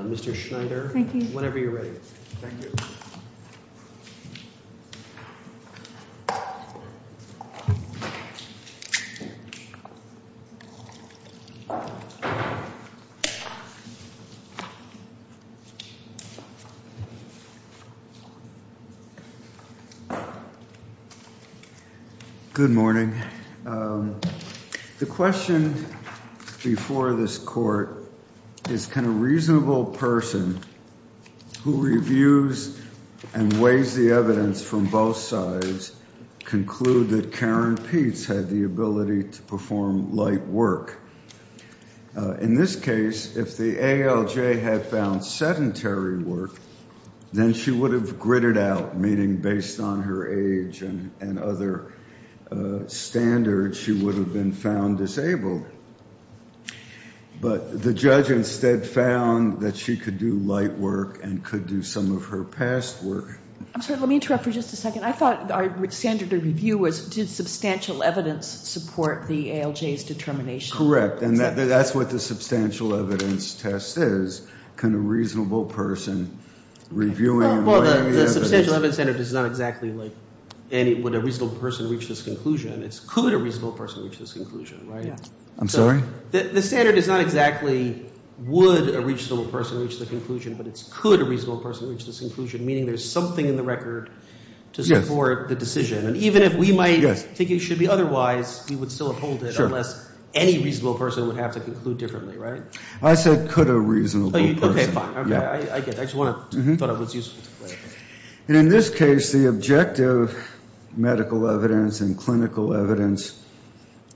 Mr. Schneider, whenever you're ready. Good morning. The question before this court is, can a reasonable person who reviews and weighs the evidence from both sides conclude that Karen Peets had the ability to perform light work? In this case, if the ALJ had found sedentary work, then she would have gritted out, meaning based on her age and other standards, she would have been found disabled. But the judge instead found that she could do light work and could do some of her past work. I'm sorry, let me interrupt for just a second. I thought our standard of review was, did Correct. And that's what the substantial evidence test is. Can a reasonable person review and weigh the evidence? Well, the substantial evidence standard is not exactly like would a reasonable person reach this conclusion. It's could a reasonable person reach this conclusion, right? I'm sorry? The standard is not exactly would a reasonable person reach the conclusion, but it's could a reasonable person reach this conclusion, meaning there's something in the record to support the decision. And even if we might think it should be otherwise, we would still withhold it unless any reasonable person would have to conclude differently, right? I said could a reasonable person. Okay, fine. I get it. I just thought it was useful. And in this case, the objective medical evidence and clinical evidence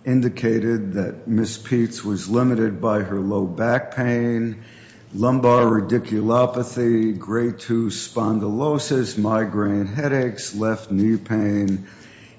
indicated that Ms. Peets was limited by her low back pain, lumbar radiculopathy, grade II spondylosis, migraine headaches, left knee pain,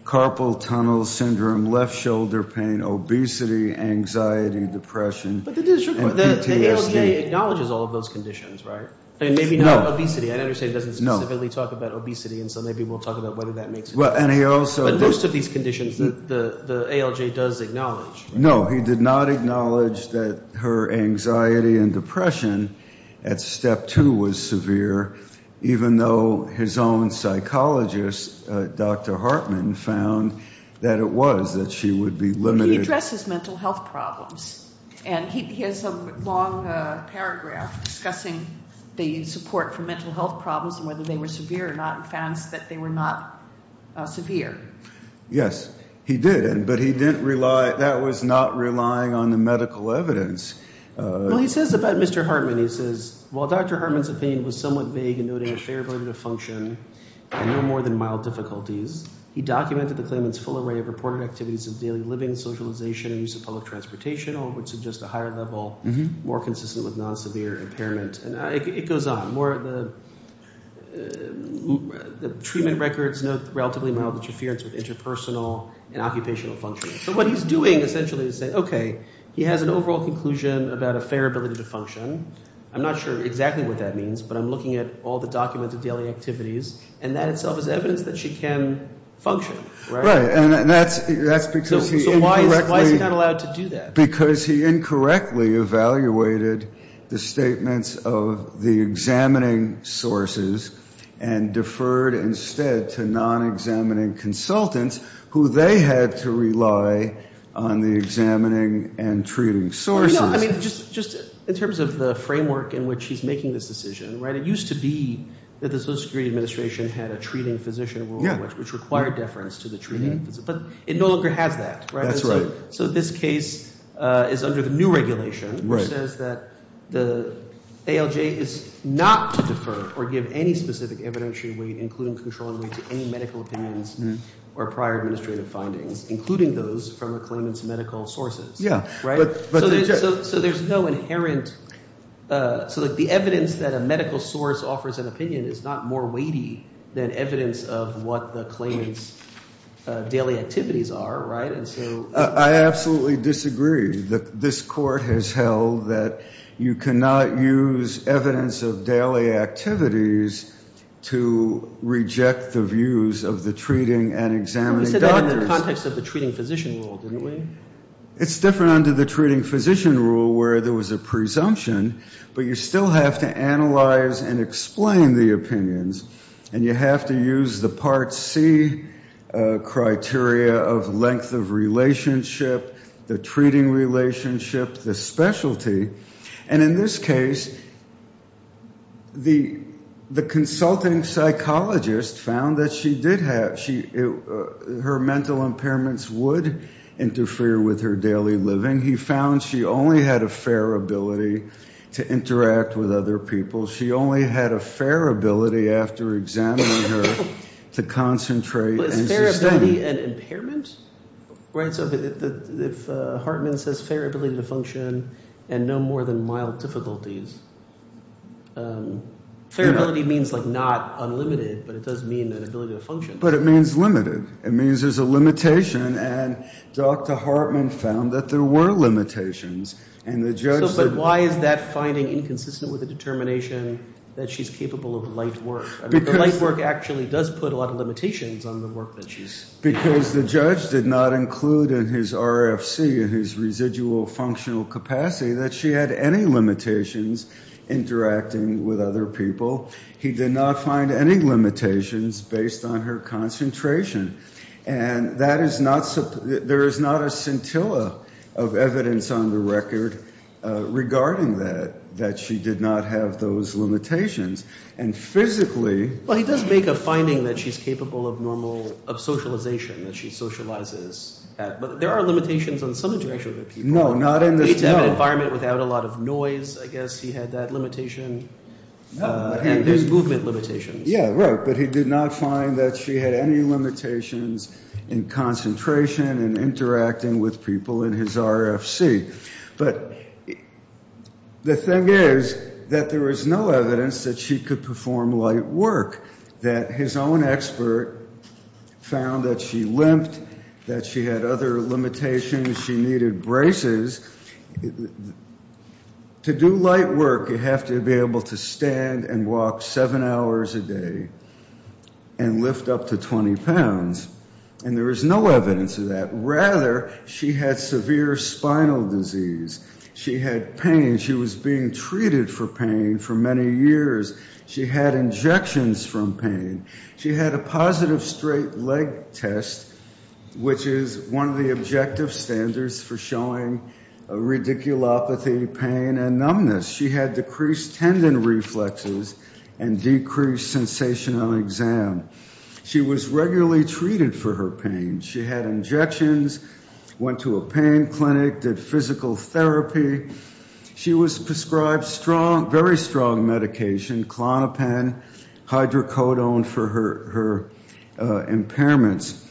carpal tunnel syndrome, left shoulder pain, obesity, anxiety, depression, and PTSD. But the ALJ acknowledges all of those conditions, right? I mean, maybe not obesity. I understand it doesn't specifically talk about obesity, and so maybe we'll talk about whether that makes sense. But most of these conditions the ALJ does acknowledge. No, he did not acknowledge that her anxiety and depression at step two was severe, even though his own psychologist, Dr. Hartman, found that it was, that she would be limited. He addresses mental health problems. And he has a long paragraph discussing the support for mental health problems and whether they were severe or not and found that they were not severe. Yes, he did. But he didn't rely, that was not relying on the medical evidence. Well, he says about Mr. Hartman, he says, well, Dr. Hartman's opinion was somewhat vague and concluding a fair ability to function and no more than mild difficulties. He documented the claimant's full array of reported activities of daily living, socialization, and use of public transportation, all of which suggest a higher level, more consistent with non-severe impairment. And it goes on. The treatment records note relatively mild interference with interpersonal and occupational functions. So what he's doing, essentially, is saying, okay, he has an overall conclusion about a fair ability to function. I'm not sure exactly what that means, but I'm looking at all the documented daily activities, and that itself is evidence that she can function, right? Right. And that's because he incorrectly So why is he not allowed to do that? Because he incorrectly evaluated the statements of the examining sources and deferred instead to non-examining consultants who they had to rely on the examining and treating sources. No, I mean, just in terms of the framework in which he's making this decision, right, it used to be that the Social Security Administration had a treating physician rule, which required deference to the treating, but it no longer has that. That's right. So this case is under the new regulation, which says that the ALJ is not to defer or give any specific evidentiary weight, including controlling weight, to any medical opinions or prior administrative findings, including those from a claimant's medical sources. Yeah. So there's no inherent – so the evidence that a medical source offers an opinion is not more weighty than evidence of what the claimant's daily activities are, right? I absolutely disagree. This Court has held that you cannot use evidence of daily activities to reject the views of the treating and examining doctors. You said that in the context of the treating physician rule, didn't you? It's different under the treating physician rule where there was a presumption, but you still have to analyze and explain the opinions, and you have to use the Part C criteria of length of relationship, the treating relationship, the specialty. And in this case, the consulting psychologist found that she did have – her mental impairments would interfere with her daily living. He found she only had a fair ability to interact with other people. She only had a fair ability after examining her to concentrate and sustain. Fair ability and impairment? Right, so if Hartman says fair ability to function and no more than mild difficulties, fair ability means like not unlimited, but it does mean an ability to function. But it means limited. It means there's a limitation, and Dr. Hartman found that there were limitations, and the judge – But why is that finding inconsistent with the determination that she's capable of light work? I mean, the light work actually does put a lot of limitations on the work that she's – Because the judge did not include in his RFC, in his residual functional capacity, that she had any limitations interacting with other people. He did not find any limitations based on her concentration. And that is not – there is not a scintilla of evidence on the record regarding that, that she did not have those limitations. And physically – Well, he does make a finding that she's capable of normal – of socialization, that she socializes. But there are limitations on some of the interactions with other people. No, not in the – In an environment without a lot of noise, I guess he had that limitation. And there's movement limitations. Yeah, right. But he did not find that she had any limitations in concentration and interacting with people in his RFC. But the thing is that there is no evidence that she could perform light work, that his own expert found that she limped, that she had other limitations, she needed braces. To do light work, you have to be able to stand and walk seven hours a day and lift up to 20 pounds. And there is no evidence of that. Rather, she had severe spinal disease. She had pain. She was being treated for pain for many years. She had injections from pain. She had a positive straight leg test, which is one of the objective standards for showing radiculopathy, pain, and numbness. She had decreased tendon reflexes and decreased sensation on exam. She was regularly treated for her pain. She had injections, went to a pain clinic, did physical therapy. She was prescribed very strong medication, Klonopin, hydrocodone, for her impairments.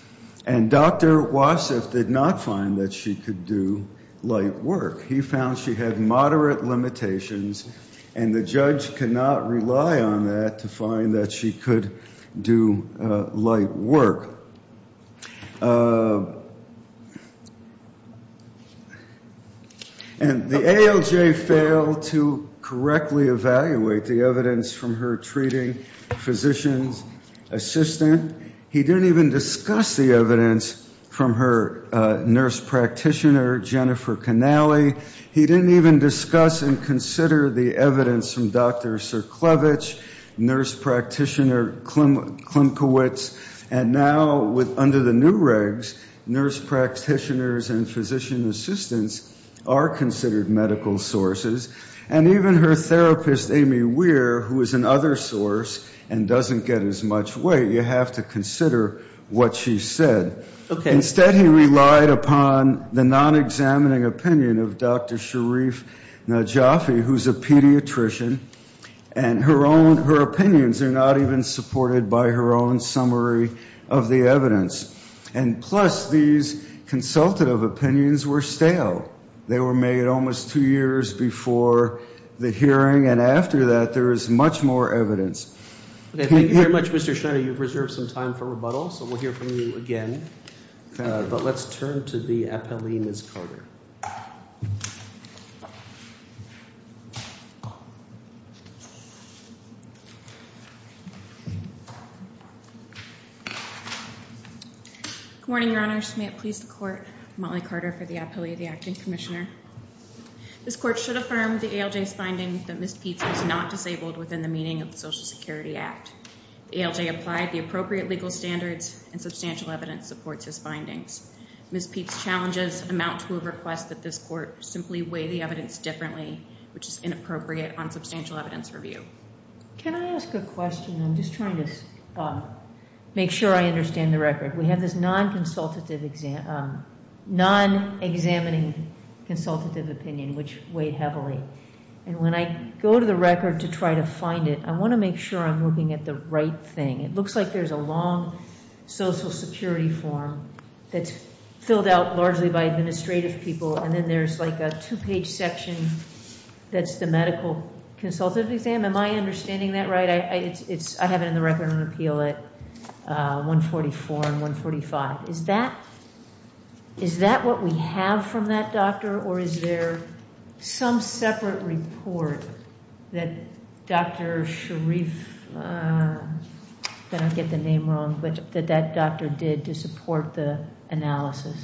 And Dr. Wasif did not find that she could do light work. He found she had moderate limitations, and the judge could not rely on that to find that she could do light work. The ALJ failed to correctly evaluate the evidence from her treating physician's assistant. He didn't even discuss the evidence from her nurse practitioner, Jennifer Canale. He didn't even discuss and consider the evidence from Dr. Cerklewicz, nurse practitioner Klimkiewicz. And now under the new regs, nurse practitioners and physician assistants are considered medical sources. And even her therapist, Amy Weir, who is another source and doesn't get as much weight, you have to consider what she said. Instead, he relied upon the non-examining opinion of Dr. Sharif Najafi, who's a pediatrician. And her opinions are not even supported by her own summary of the evidence. And plus, these consultative opinions were stale. They were made almost two years before the hearing, and after that, there is much more evidence. Thank you very much, Mr. Schneider. You've reserved some time for rebuttal, so we'll hear from you again. But let's turn to the appellee, Ms. Carter. Good morning, Your Honors. May it please the Court. I'm Molly Carter for the appellee, the Acting Commissioner. This Court should affirm the ALJ's finding that Ms. Peetz was not disabled within the meaning of the Social Security Act. The ALJ applied the appropriate legal standards, and substantial evidence supports his findings. Ms. Peetz's challenges amount to a request that this Court simply weigh the evidence differently, which is inappropriate on substantial evidence review. Can I ask a question? I'm just trying to make sure I understand the record. We have this non-examining consultative opinion, which weighed heavily. And when I go to the record to try to find it, I want to make sure I'm looking at the right thing. It looks like there's a long Social Security form that's filled out largely by administrative people, and then there's like a two-page section that's the medical consultative exam. Am I understanding that right? I have it in the record on appeal at 144 and 145. Is that what we have from that doctor, or is there some separate report that Dr. Sharif, I don't want to get the name wrong, that that doctor did to support the analysis?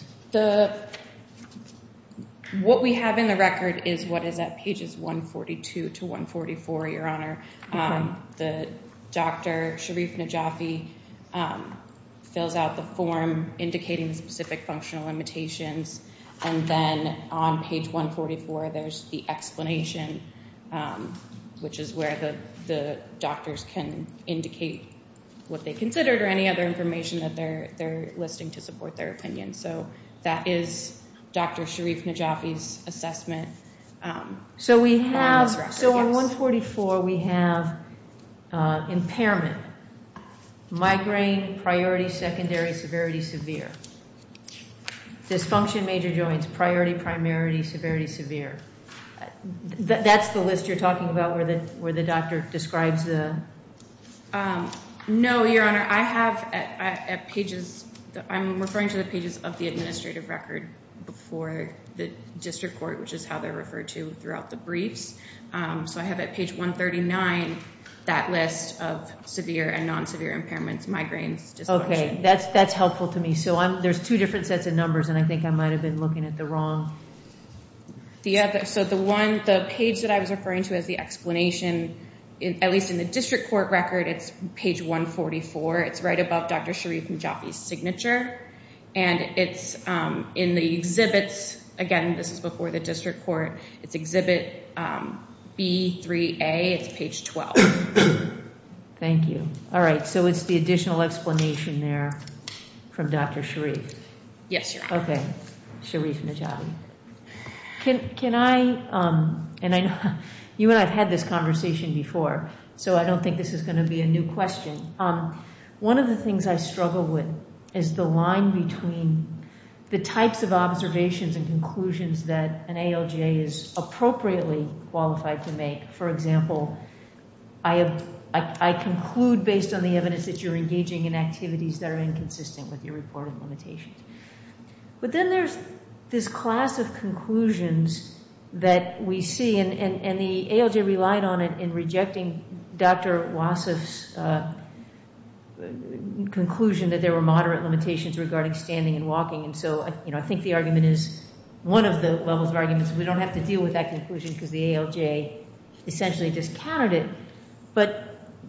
What we have in the record is what is at pages 142 to 144, Your Honor. The Dr. Sharif Najafi fills out the form indicating specific functional limitations, and then on page 144 there's the explanation, which is where the doctors can indicate what they considered or any other information that they're listing to support their opinion. So that is Dr. Sharif Najafi's assessment. So on 144 we have impairment, migraine, priority, secondary, severity, severe. Dysfunction of major joints, priority, primary, severity, severe. That's the list you're talking about where the doctor describes the... No, Your Honor. I have at pages, I'm referring to the pages of the administrative record before the district court, which is how they're referred to throughout the briefs. So I have at page 139 that list of severe and non-severe impairments, migraines, dysfunction. Okay. That's helpful to me. So there's two different sets of numbers, and I think I might have been looking at the wrong... So the one, the page that I was referring to as the explanation, at least in the district court record, it's page 144. It's right above Dr. Sharif Najafi's signature. And it's in the exhibits. Again, this is before the district court. It's exhibit B3A. It's page 12. Thank you. All right. So it's the additional explanation there from Dr. Sharif. Yes, Your Honor. Okay. Sharif Najafi. Can I, and I know you and I have had this conversation before, so I don't think this is going to be a new question. One of the things I struggle with is the line between the types of observations and conclusions that an ALJ is appropriately qualified to make. For example, I conclude based on the evidence that you're engaging in activities that are inconsistent with your reporting limitations. But then there's this class of conclusions that we see, and the ALJ relied on it in rejecting Dr. Wassef's conclusion that there were moderate limitations regarding standing and walking. And so I think the argument is one of the levels of arguments. We don't have to deal with that conclusion because the ALJ essentially discounted it. But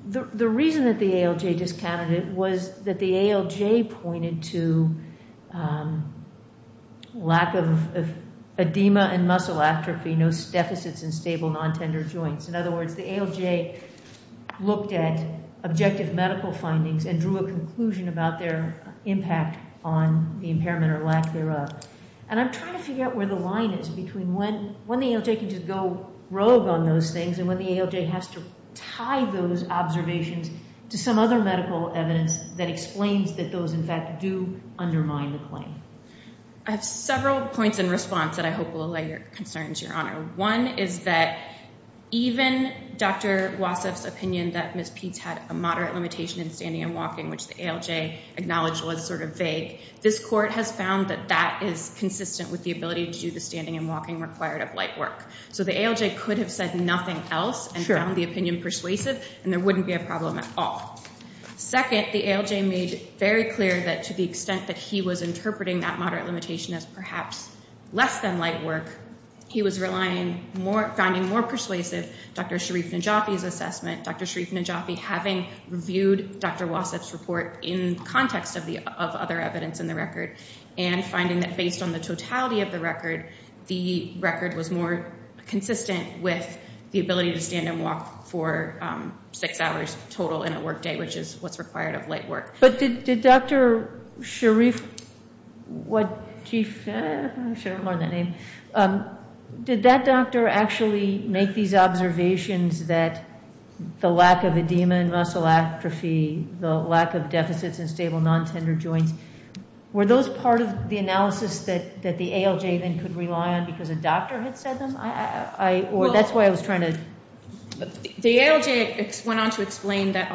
the reason that the ALJ discounted it was that the ALJ pointed to lack of edema and muscle atrophy, no deficits in stable, non-tender joints. In other words, the ALJ looked at objective medical findings and drew a conclusion about their impact on the impairment or lack thereof. And I'm trying to figure out where the line is between when the ALJ can just go rogue on those things and when the ALJ has to tie those observations to some other medical evidence that explains that those, in fact, do undermine the claim. I have several points in response that I hope will allay your concerns, Your Honor. One is that even Dr. Wassef's opinion that Ms. Peetz had a moderate limitation in standing and walking, which the ALJ acknowledged was sort of vague, this court has found that that is consistent with the ability to do the standing and walking required of light work. So the ALJ could have said nothing else and found the opinion persuasive, and there wouldn't be a problem at all. Second, the ALJ made very clear that to the extent that he was interpreting that moderate limitation as perhaps less than light work, he was finding more persuasive Dr. Sharif Najafi's assessment, Dr. Sharif Najafi having reviewed Dr. Wassef's report in context of other evidence in the record and finding that based on the totality of the record, the record was more consistent with the ability to stand and walk for six hours total in a work day, which is what's required of light work. But did Dr. Sharif, what chief, I should have learned that name, did that doctor actually make these observations that the lack of edema and muscle atrophy, the lack of deficits in stable non-tender joints, were those part of the analysis that the ALJ then could rely on because a doctor had said them? Or that's why I was trying to... The ALJ went on to explain that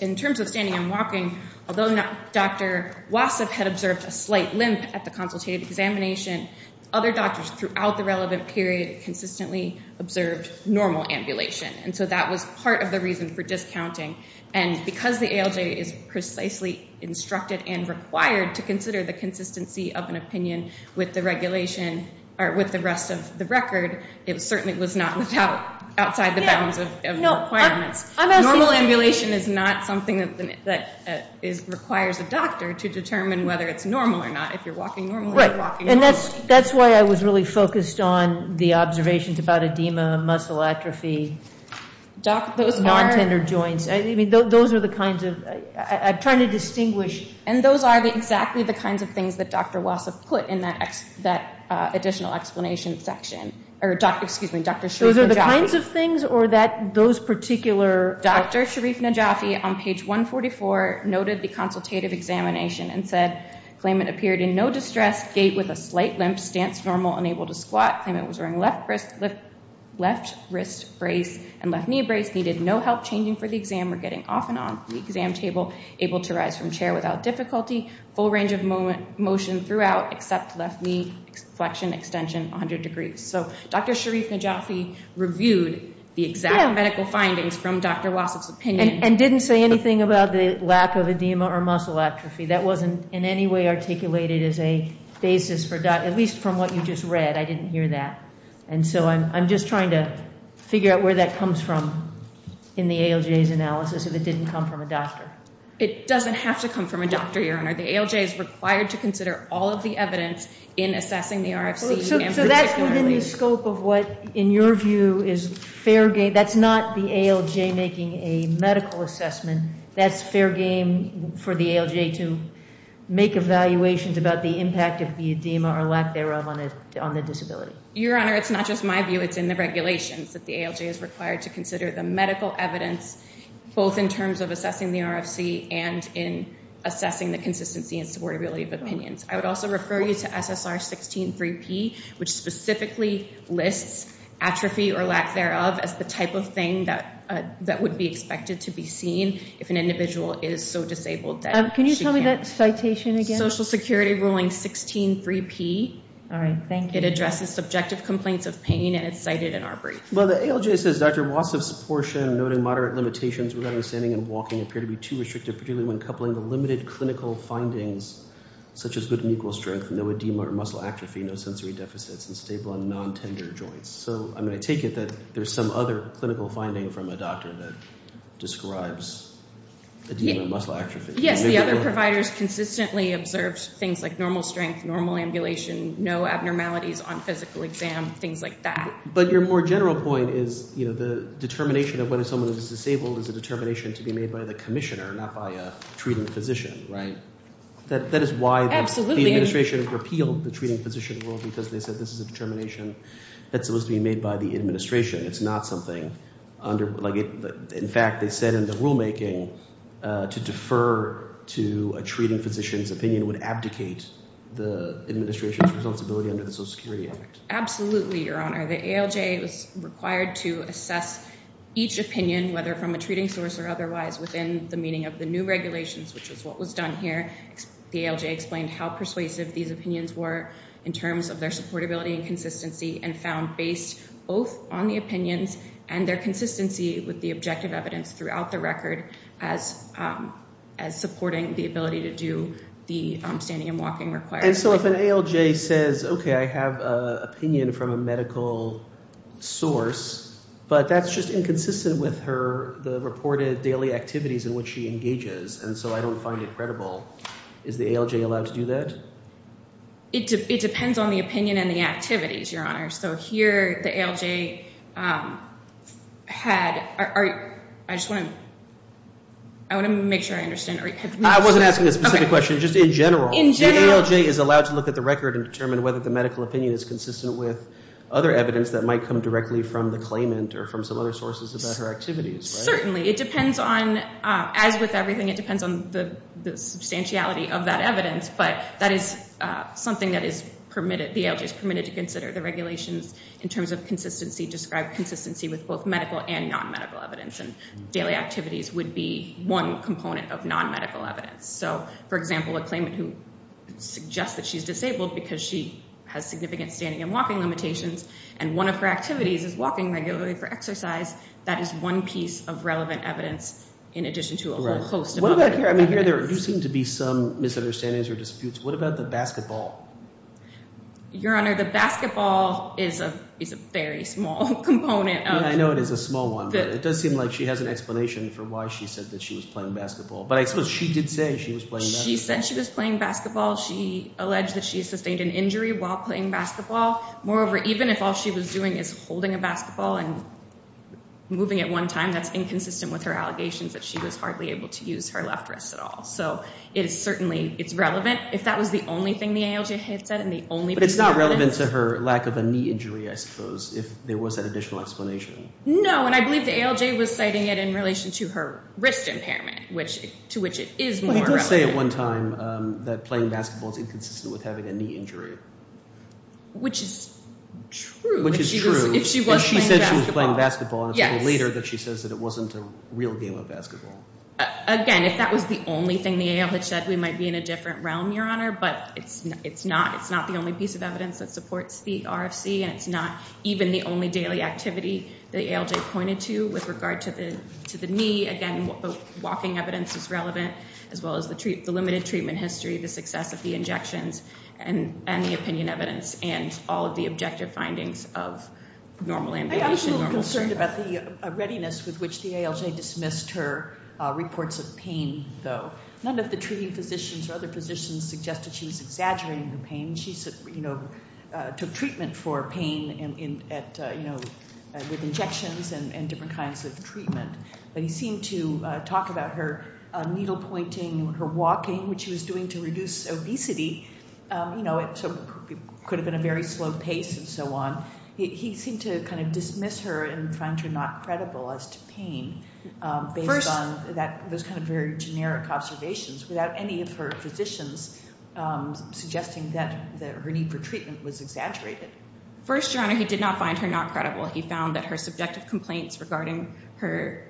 in terms of standing and walking, although Dr. Wassef had observed a slight limp at the consultative examination, other doctors throughout the relevant period consistently observed normal ambulation. And so that was part of the reason for discounting. And because the ALJ is precisely instructed and required to consider the consistency of an opinion with the rest of the record, it certainly was not outside the bounds of the requirements. Normal ambulation is not something that requires a doctor to determine whether it's normal or not, if you're walking normally or walking normally. And that's why I was really focused on the observations about edema, muscle atrophy, non-tender joints. I mean, those are the kinds of... I'm trying to distinguish... And those are exactly the kinds of things that Dr. Wassef put in that additional explanation section. Excuse me, Dr. Sharif Najafi. Those are the kinds of things or those particular... Dr. Sharif Najafi on page 144 noted the consultative examination and said, claimant appeared in no distress, gait with a slight limp, stance normal, unable to squat. Claimant was wearing left wrist brace and left knee brace, needed no help changing for the exam or getting off and on the exam table, able to rise from chair without difficulty, full range of motion throughout except left knee flexion extension 100 degrees. So Dr. Sharif Najafi reviewed the exact medical findings from Dr. Wassef's opinion. And didn't say anything about the lack of edema or muscle atrophy. That wasn't in any way articulated as a basis for... at least from what you just read. I didn't hear that. And so I'm just trying to figure out where that comes from in the ALJ's analysis if it didn't come from a doctor. It doesn't have to come from a doctor, Your Honor. The ALJ is required to consider all of the evidence in assessing the RFC and particularly... So that's within the scope of what, in your view, is fair game. That's not the ALJ making a medical assessment. That's fair game for the ALJ to make evaluations about the impact of the edema or lack thereof on the disability. Your Honor, it's not just my view. It's in the regulations that the ALJ is required to consider the medical evidence both in terms of assessing the RFC and in assessing the consistency and supportability of opinions. I would also refer you to SSR 16-3P, which specifically lists atrophy or lack thereof as the type of thing that would be expected to be seen if an individual is so disabled that she can't... Can you tell me that citation again? Social Security Ruling 16-3P. All right. Thank you. It addresses subjective complaints of pain, and it's cited in our brief. Well, the ALJ says, Dr. Watson's portion noting moderate limitations regarding standing and walking appear to be too restrictive, particularly when coupling the limited clinical findings such as good and equal strength, no edema or muscle atrophy, no sensory deficits, and stable and non-tender joints. So I'm going to take it that there's some other clinical finding from a doctor that describes edema and muscle atrophy. Yes, the other providers consistently observed things like normal strength, normal ambulation, no abnormalities on physical exam, things like that. But your more general point is the determination of whether someone is disabled is a determination to be made by the commissioner, not by a treating physician. Right. That is why the administration repealed the treating physician rule because they said this is a determination that was to be made by the administration. It's not something under – like, in fact, they said in the rulemaking to defer to a treating physician's opinion would abdicate the administration's responsibility under the Social Security Act. Absolutely, Your Honor. The ALJ was required to assess each opinion, whether from a treating source or otherwise, within the meaning of the new regulations, which is what was done here. The ALJ explained how persuasive these opinions were in terms of their supportability and consistency and found based both on the opinions and their consistency with the objective evidence throughout the record as supporting the ability to do the standing and walking required. And so if an ALJ says, okay, I have an opinion from a medical source, but that's just inconsistent with her – the reported daily activities in which she engages, and so I don't find it credible, is the ALJ allowed to do that? It depends on the opinion and the activities, Your Honor. So here the ALJ had – I just want to – I want to make sure I understand. I wasn't asking a specific question. Just in general. In general. The ALJ is allowed to look at the record and determine whether the medical opinion is consistent with other evidence that might come directly from the claimant or from some other sources about her activities, right? Certainly. It depends on – as with everything, it depends on the substantiality of that evidence, but that is something that is permitted – the ALJ is permitted to consider. The regulations in terms of consistency describe consistency with both medical and non-medical evidence, and daily activities would be one component of non-medical evidence. So, for example, a claimant who suggests that she's disabled because she has significant standing and walking limitations and one of her activities is walking regularly for exercise, that is one piece of relevant evidence in addition to a whole host of other evidence. I mean, here there do seem to be some misunderstandings or disputes. What about the basketball? Your Honor, the basketball is a very small component of – I know it is a small one, but it does seem like she has an explanation for why she said that she was playing basketball. But I suppose she did say she was playing basketball. She said she was playing basketball. She alleged that she sustained an injury while playing basketball. Moreover, even if all she was doing is holding a basketball and moving at one time, that's inconsistent with her allegations that she was hardly able to use her left wrist at all. So it is certainly – it's relevant. If that was the only thing the ALJ had said and the only piece of evidence – But it's not relevant to her lack of a knee injury, I suppose, if there was that additional explanation. No, and I believe the ALJ was citing it in relation to her wrist impairment, to which it is more relevant. Well, he did say at one time that playing basketball is inconsistent with having a knee injury. Which is true. Which is true. If she was playing basketball. If she said she was playing basketball and it's a little later that she says that it wasn't a real game of basketball. Again, if that was the only thing the ALJ had said, we might be in a different realm, Your Honor. But it's not the only piece of evidence that supports the RFC, and it's not even the only daily activity the ALJ pointed to with regard to the knee. Again, the walking evidence is relevant as well as the limited treatment history, the success of the injections, and the opinion evidence, and all of the objective findings of normal amputation. I was a little concerned about the readiness with which the ALJ dismissed her reports of pain, though. None of the treating physicians or other physicians suggested she was exaggerating her pain. She took treatment for pain with injections and different kinds of treatment. But he seemed to talk about her needle pointing, her walking, which she was doing to reduce obesity. You know, it could have been a very slow pace and so on. He seemed to kind of dismiss her and find her not credible as to pain. Based on those kind of very generic observations, without any of her physicians suggesting that her need for treatment was exaggerated. First, Your Honor, he did not find her not credible. He found that her subjective complaints regarding her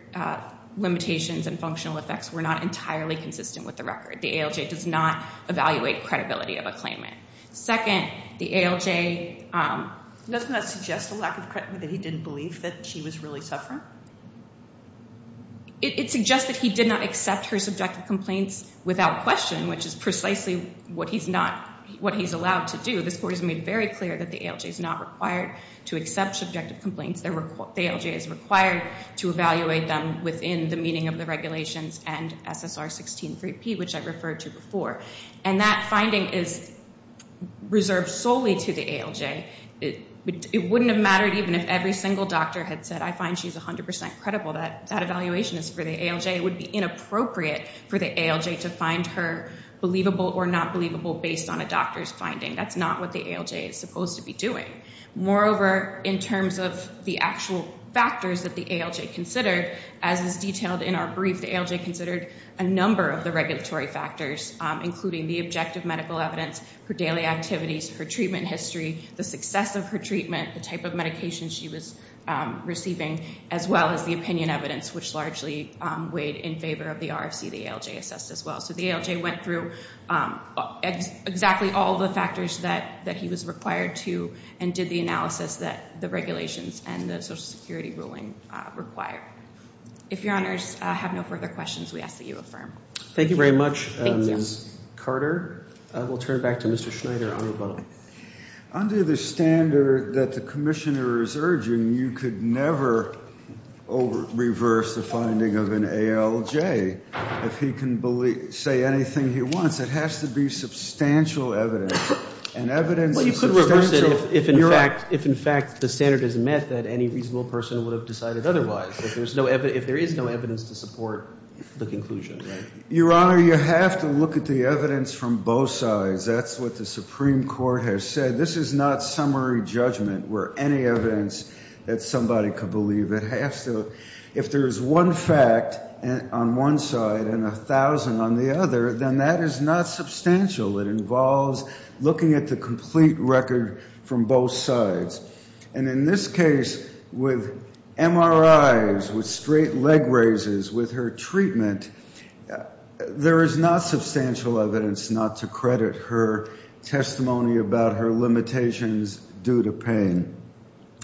limitations and functional effects were not entirely consistent with the record. The ALJ does not evaluate credibility of a claimant. Second, the ALJ- Doesn't that suggest a lack of credibility, that he didn't believe that she was really suffering? It suggests that he did not accept her subjective complaints without question, which is precisely what he's allowed to do. This Court has made very clear that the ALJ is not required to accept subjective complaints. The ALJ is required to evaluate them within the meaning of the regulations and SSR 163P, which I referred to before. And that finding is reserved solely to the ALJ. It wouldn't have mattered even if every single doctor had said, I find she's 100% credible. That evaluation is for the ALJ. It would be inappropriate for the ALJ to find her believable or not believable based on a doctor's finding. That's not what the ALJ is supposed to be doing. Moreover, in terms of the actual factors that the ALJ considered, as is detailed in our brief, the ALJ considered a number of the regulatory factors, including the objective medical evidence, her daily activities, her treatment history, the success of her treatment, the type of medication she was receiving, as well as the opinion evidence, which largely weighed in favor of the RFC the ALJ assessed as well. So the ALJ went through exactly all the factors that he was required to and did the analysis that the regulations and the Social Security ruling require. If Your Honors have no further questions, we ask that you affirm. Thank you very much, Ms. Carter. We'll turn it back to Mr. Schneider on rebuttal. Under the standard that the commissioner is urging, you could never reverse the finding of an ALJ. If he can say anything he wants, it has to be substantial evidence. And evidence is substantial. Well, you could reverse it if, in fact, the standard is met that any reasonable person would have decided otherwise, if there is no evidence to support the conclusion. Your Honor, you have to look at the evidence from both sides. That's what the Supreme Court has said. This is not summary judgment where any evidence that somebody could believe it. If there is one fact on one side and 1,000 on the other, then that is not substantial. It involves looking at the complete record from both sides. And in this case, with MRIs, with straight leg raises, with her treatment, there is not substantial evidence not to credit her testimony about her limitations due to pain.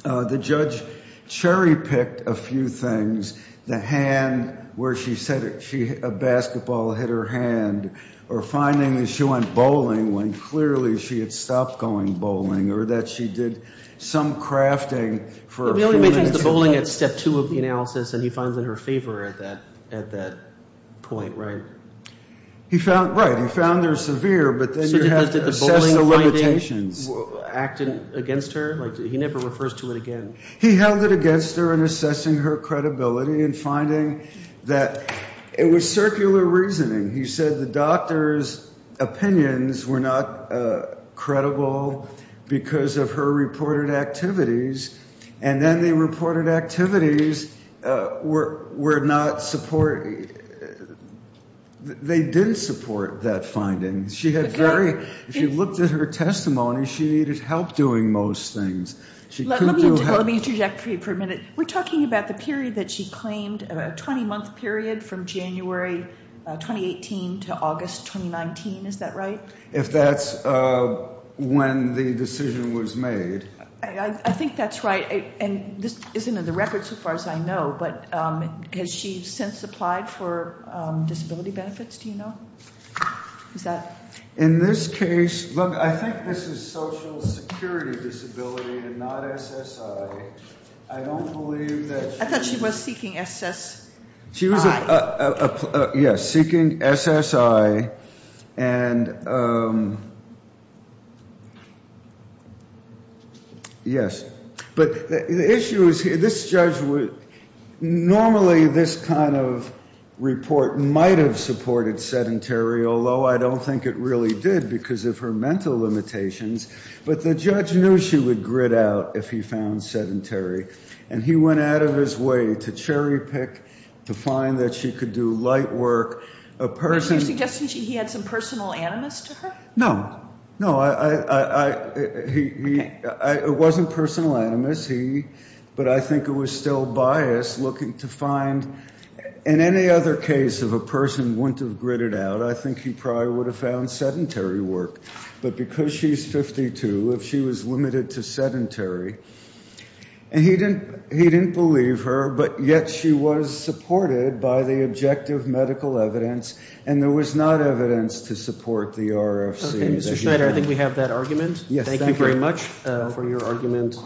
The judge cherry-picked a few things, the hand where she said a basketball hit her hand, or finding that she went bowling when clearly she had stopped going bowling, or that she did some crafting for a few minutes. He only mentions the bowling at step two of the analysis, and he finds in her favor at that point, right? Right. He found her severe, but then you have to assess the limitations. Acting against her? He never refers to it again. He held it against her in assessing her credibility and finding that it was circular reasoning. He said the doctor's opinions were not credible because of her reported activities, and then the reported activities were not support. They didn't support that finding. If you looked at her testimony, she needed help doing most things. Let me interject for a minute. We're talking about the period that she claimed, a 20-month period from January 2018 to August 2019, is that right? If that's when the decision was made. I think that's right, and this isn't in the record so far as I know, but has she since applied for disability benefits, do you know? Who's that? In this case, look, I think this is social security disability and not SSI. I don't believe that. I thought she was seeking SSI. She was, yes, seeking SSI, and yes. Normally this kind of report might have supported sedentary, although I don't think it really did because of her mental limitations. But the judge knew she would grit out if he found sedentary, and he went out of his way to cherry pick, to find that she could do light work. Are you suggesting he had some personal animus to her? No. It wasn't personal animus, but I think it was still bias looking to find. In any other case, if a person wouldn't have gritted out, I think he probably would have found sedentary work. But because she's 52, if she was limited to sedentary, and he didn't believe her, but yet she was supported by the objective medical evidence, and there was not evidence to support the RFC. Okay, Mr. Schneider, I think we have that argument. Thank you very much for your argument.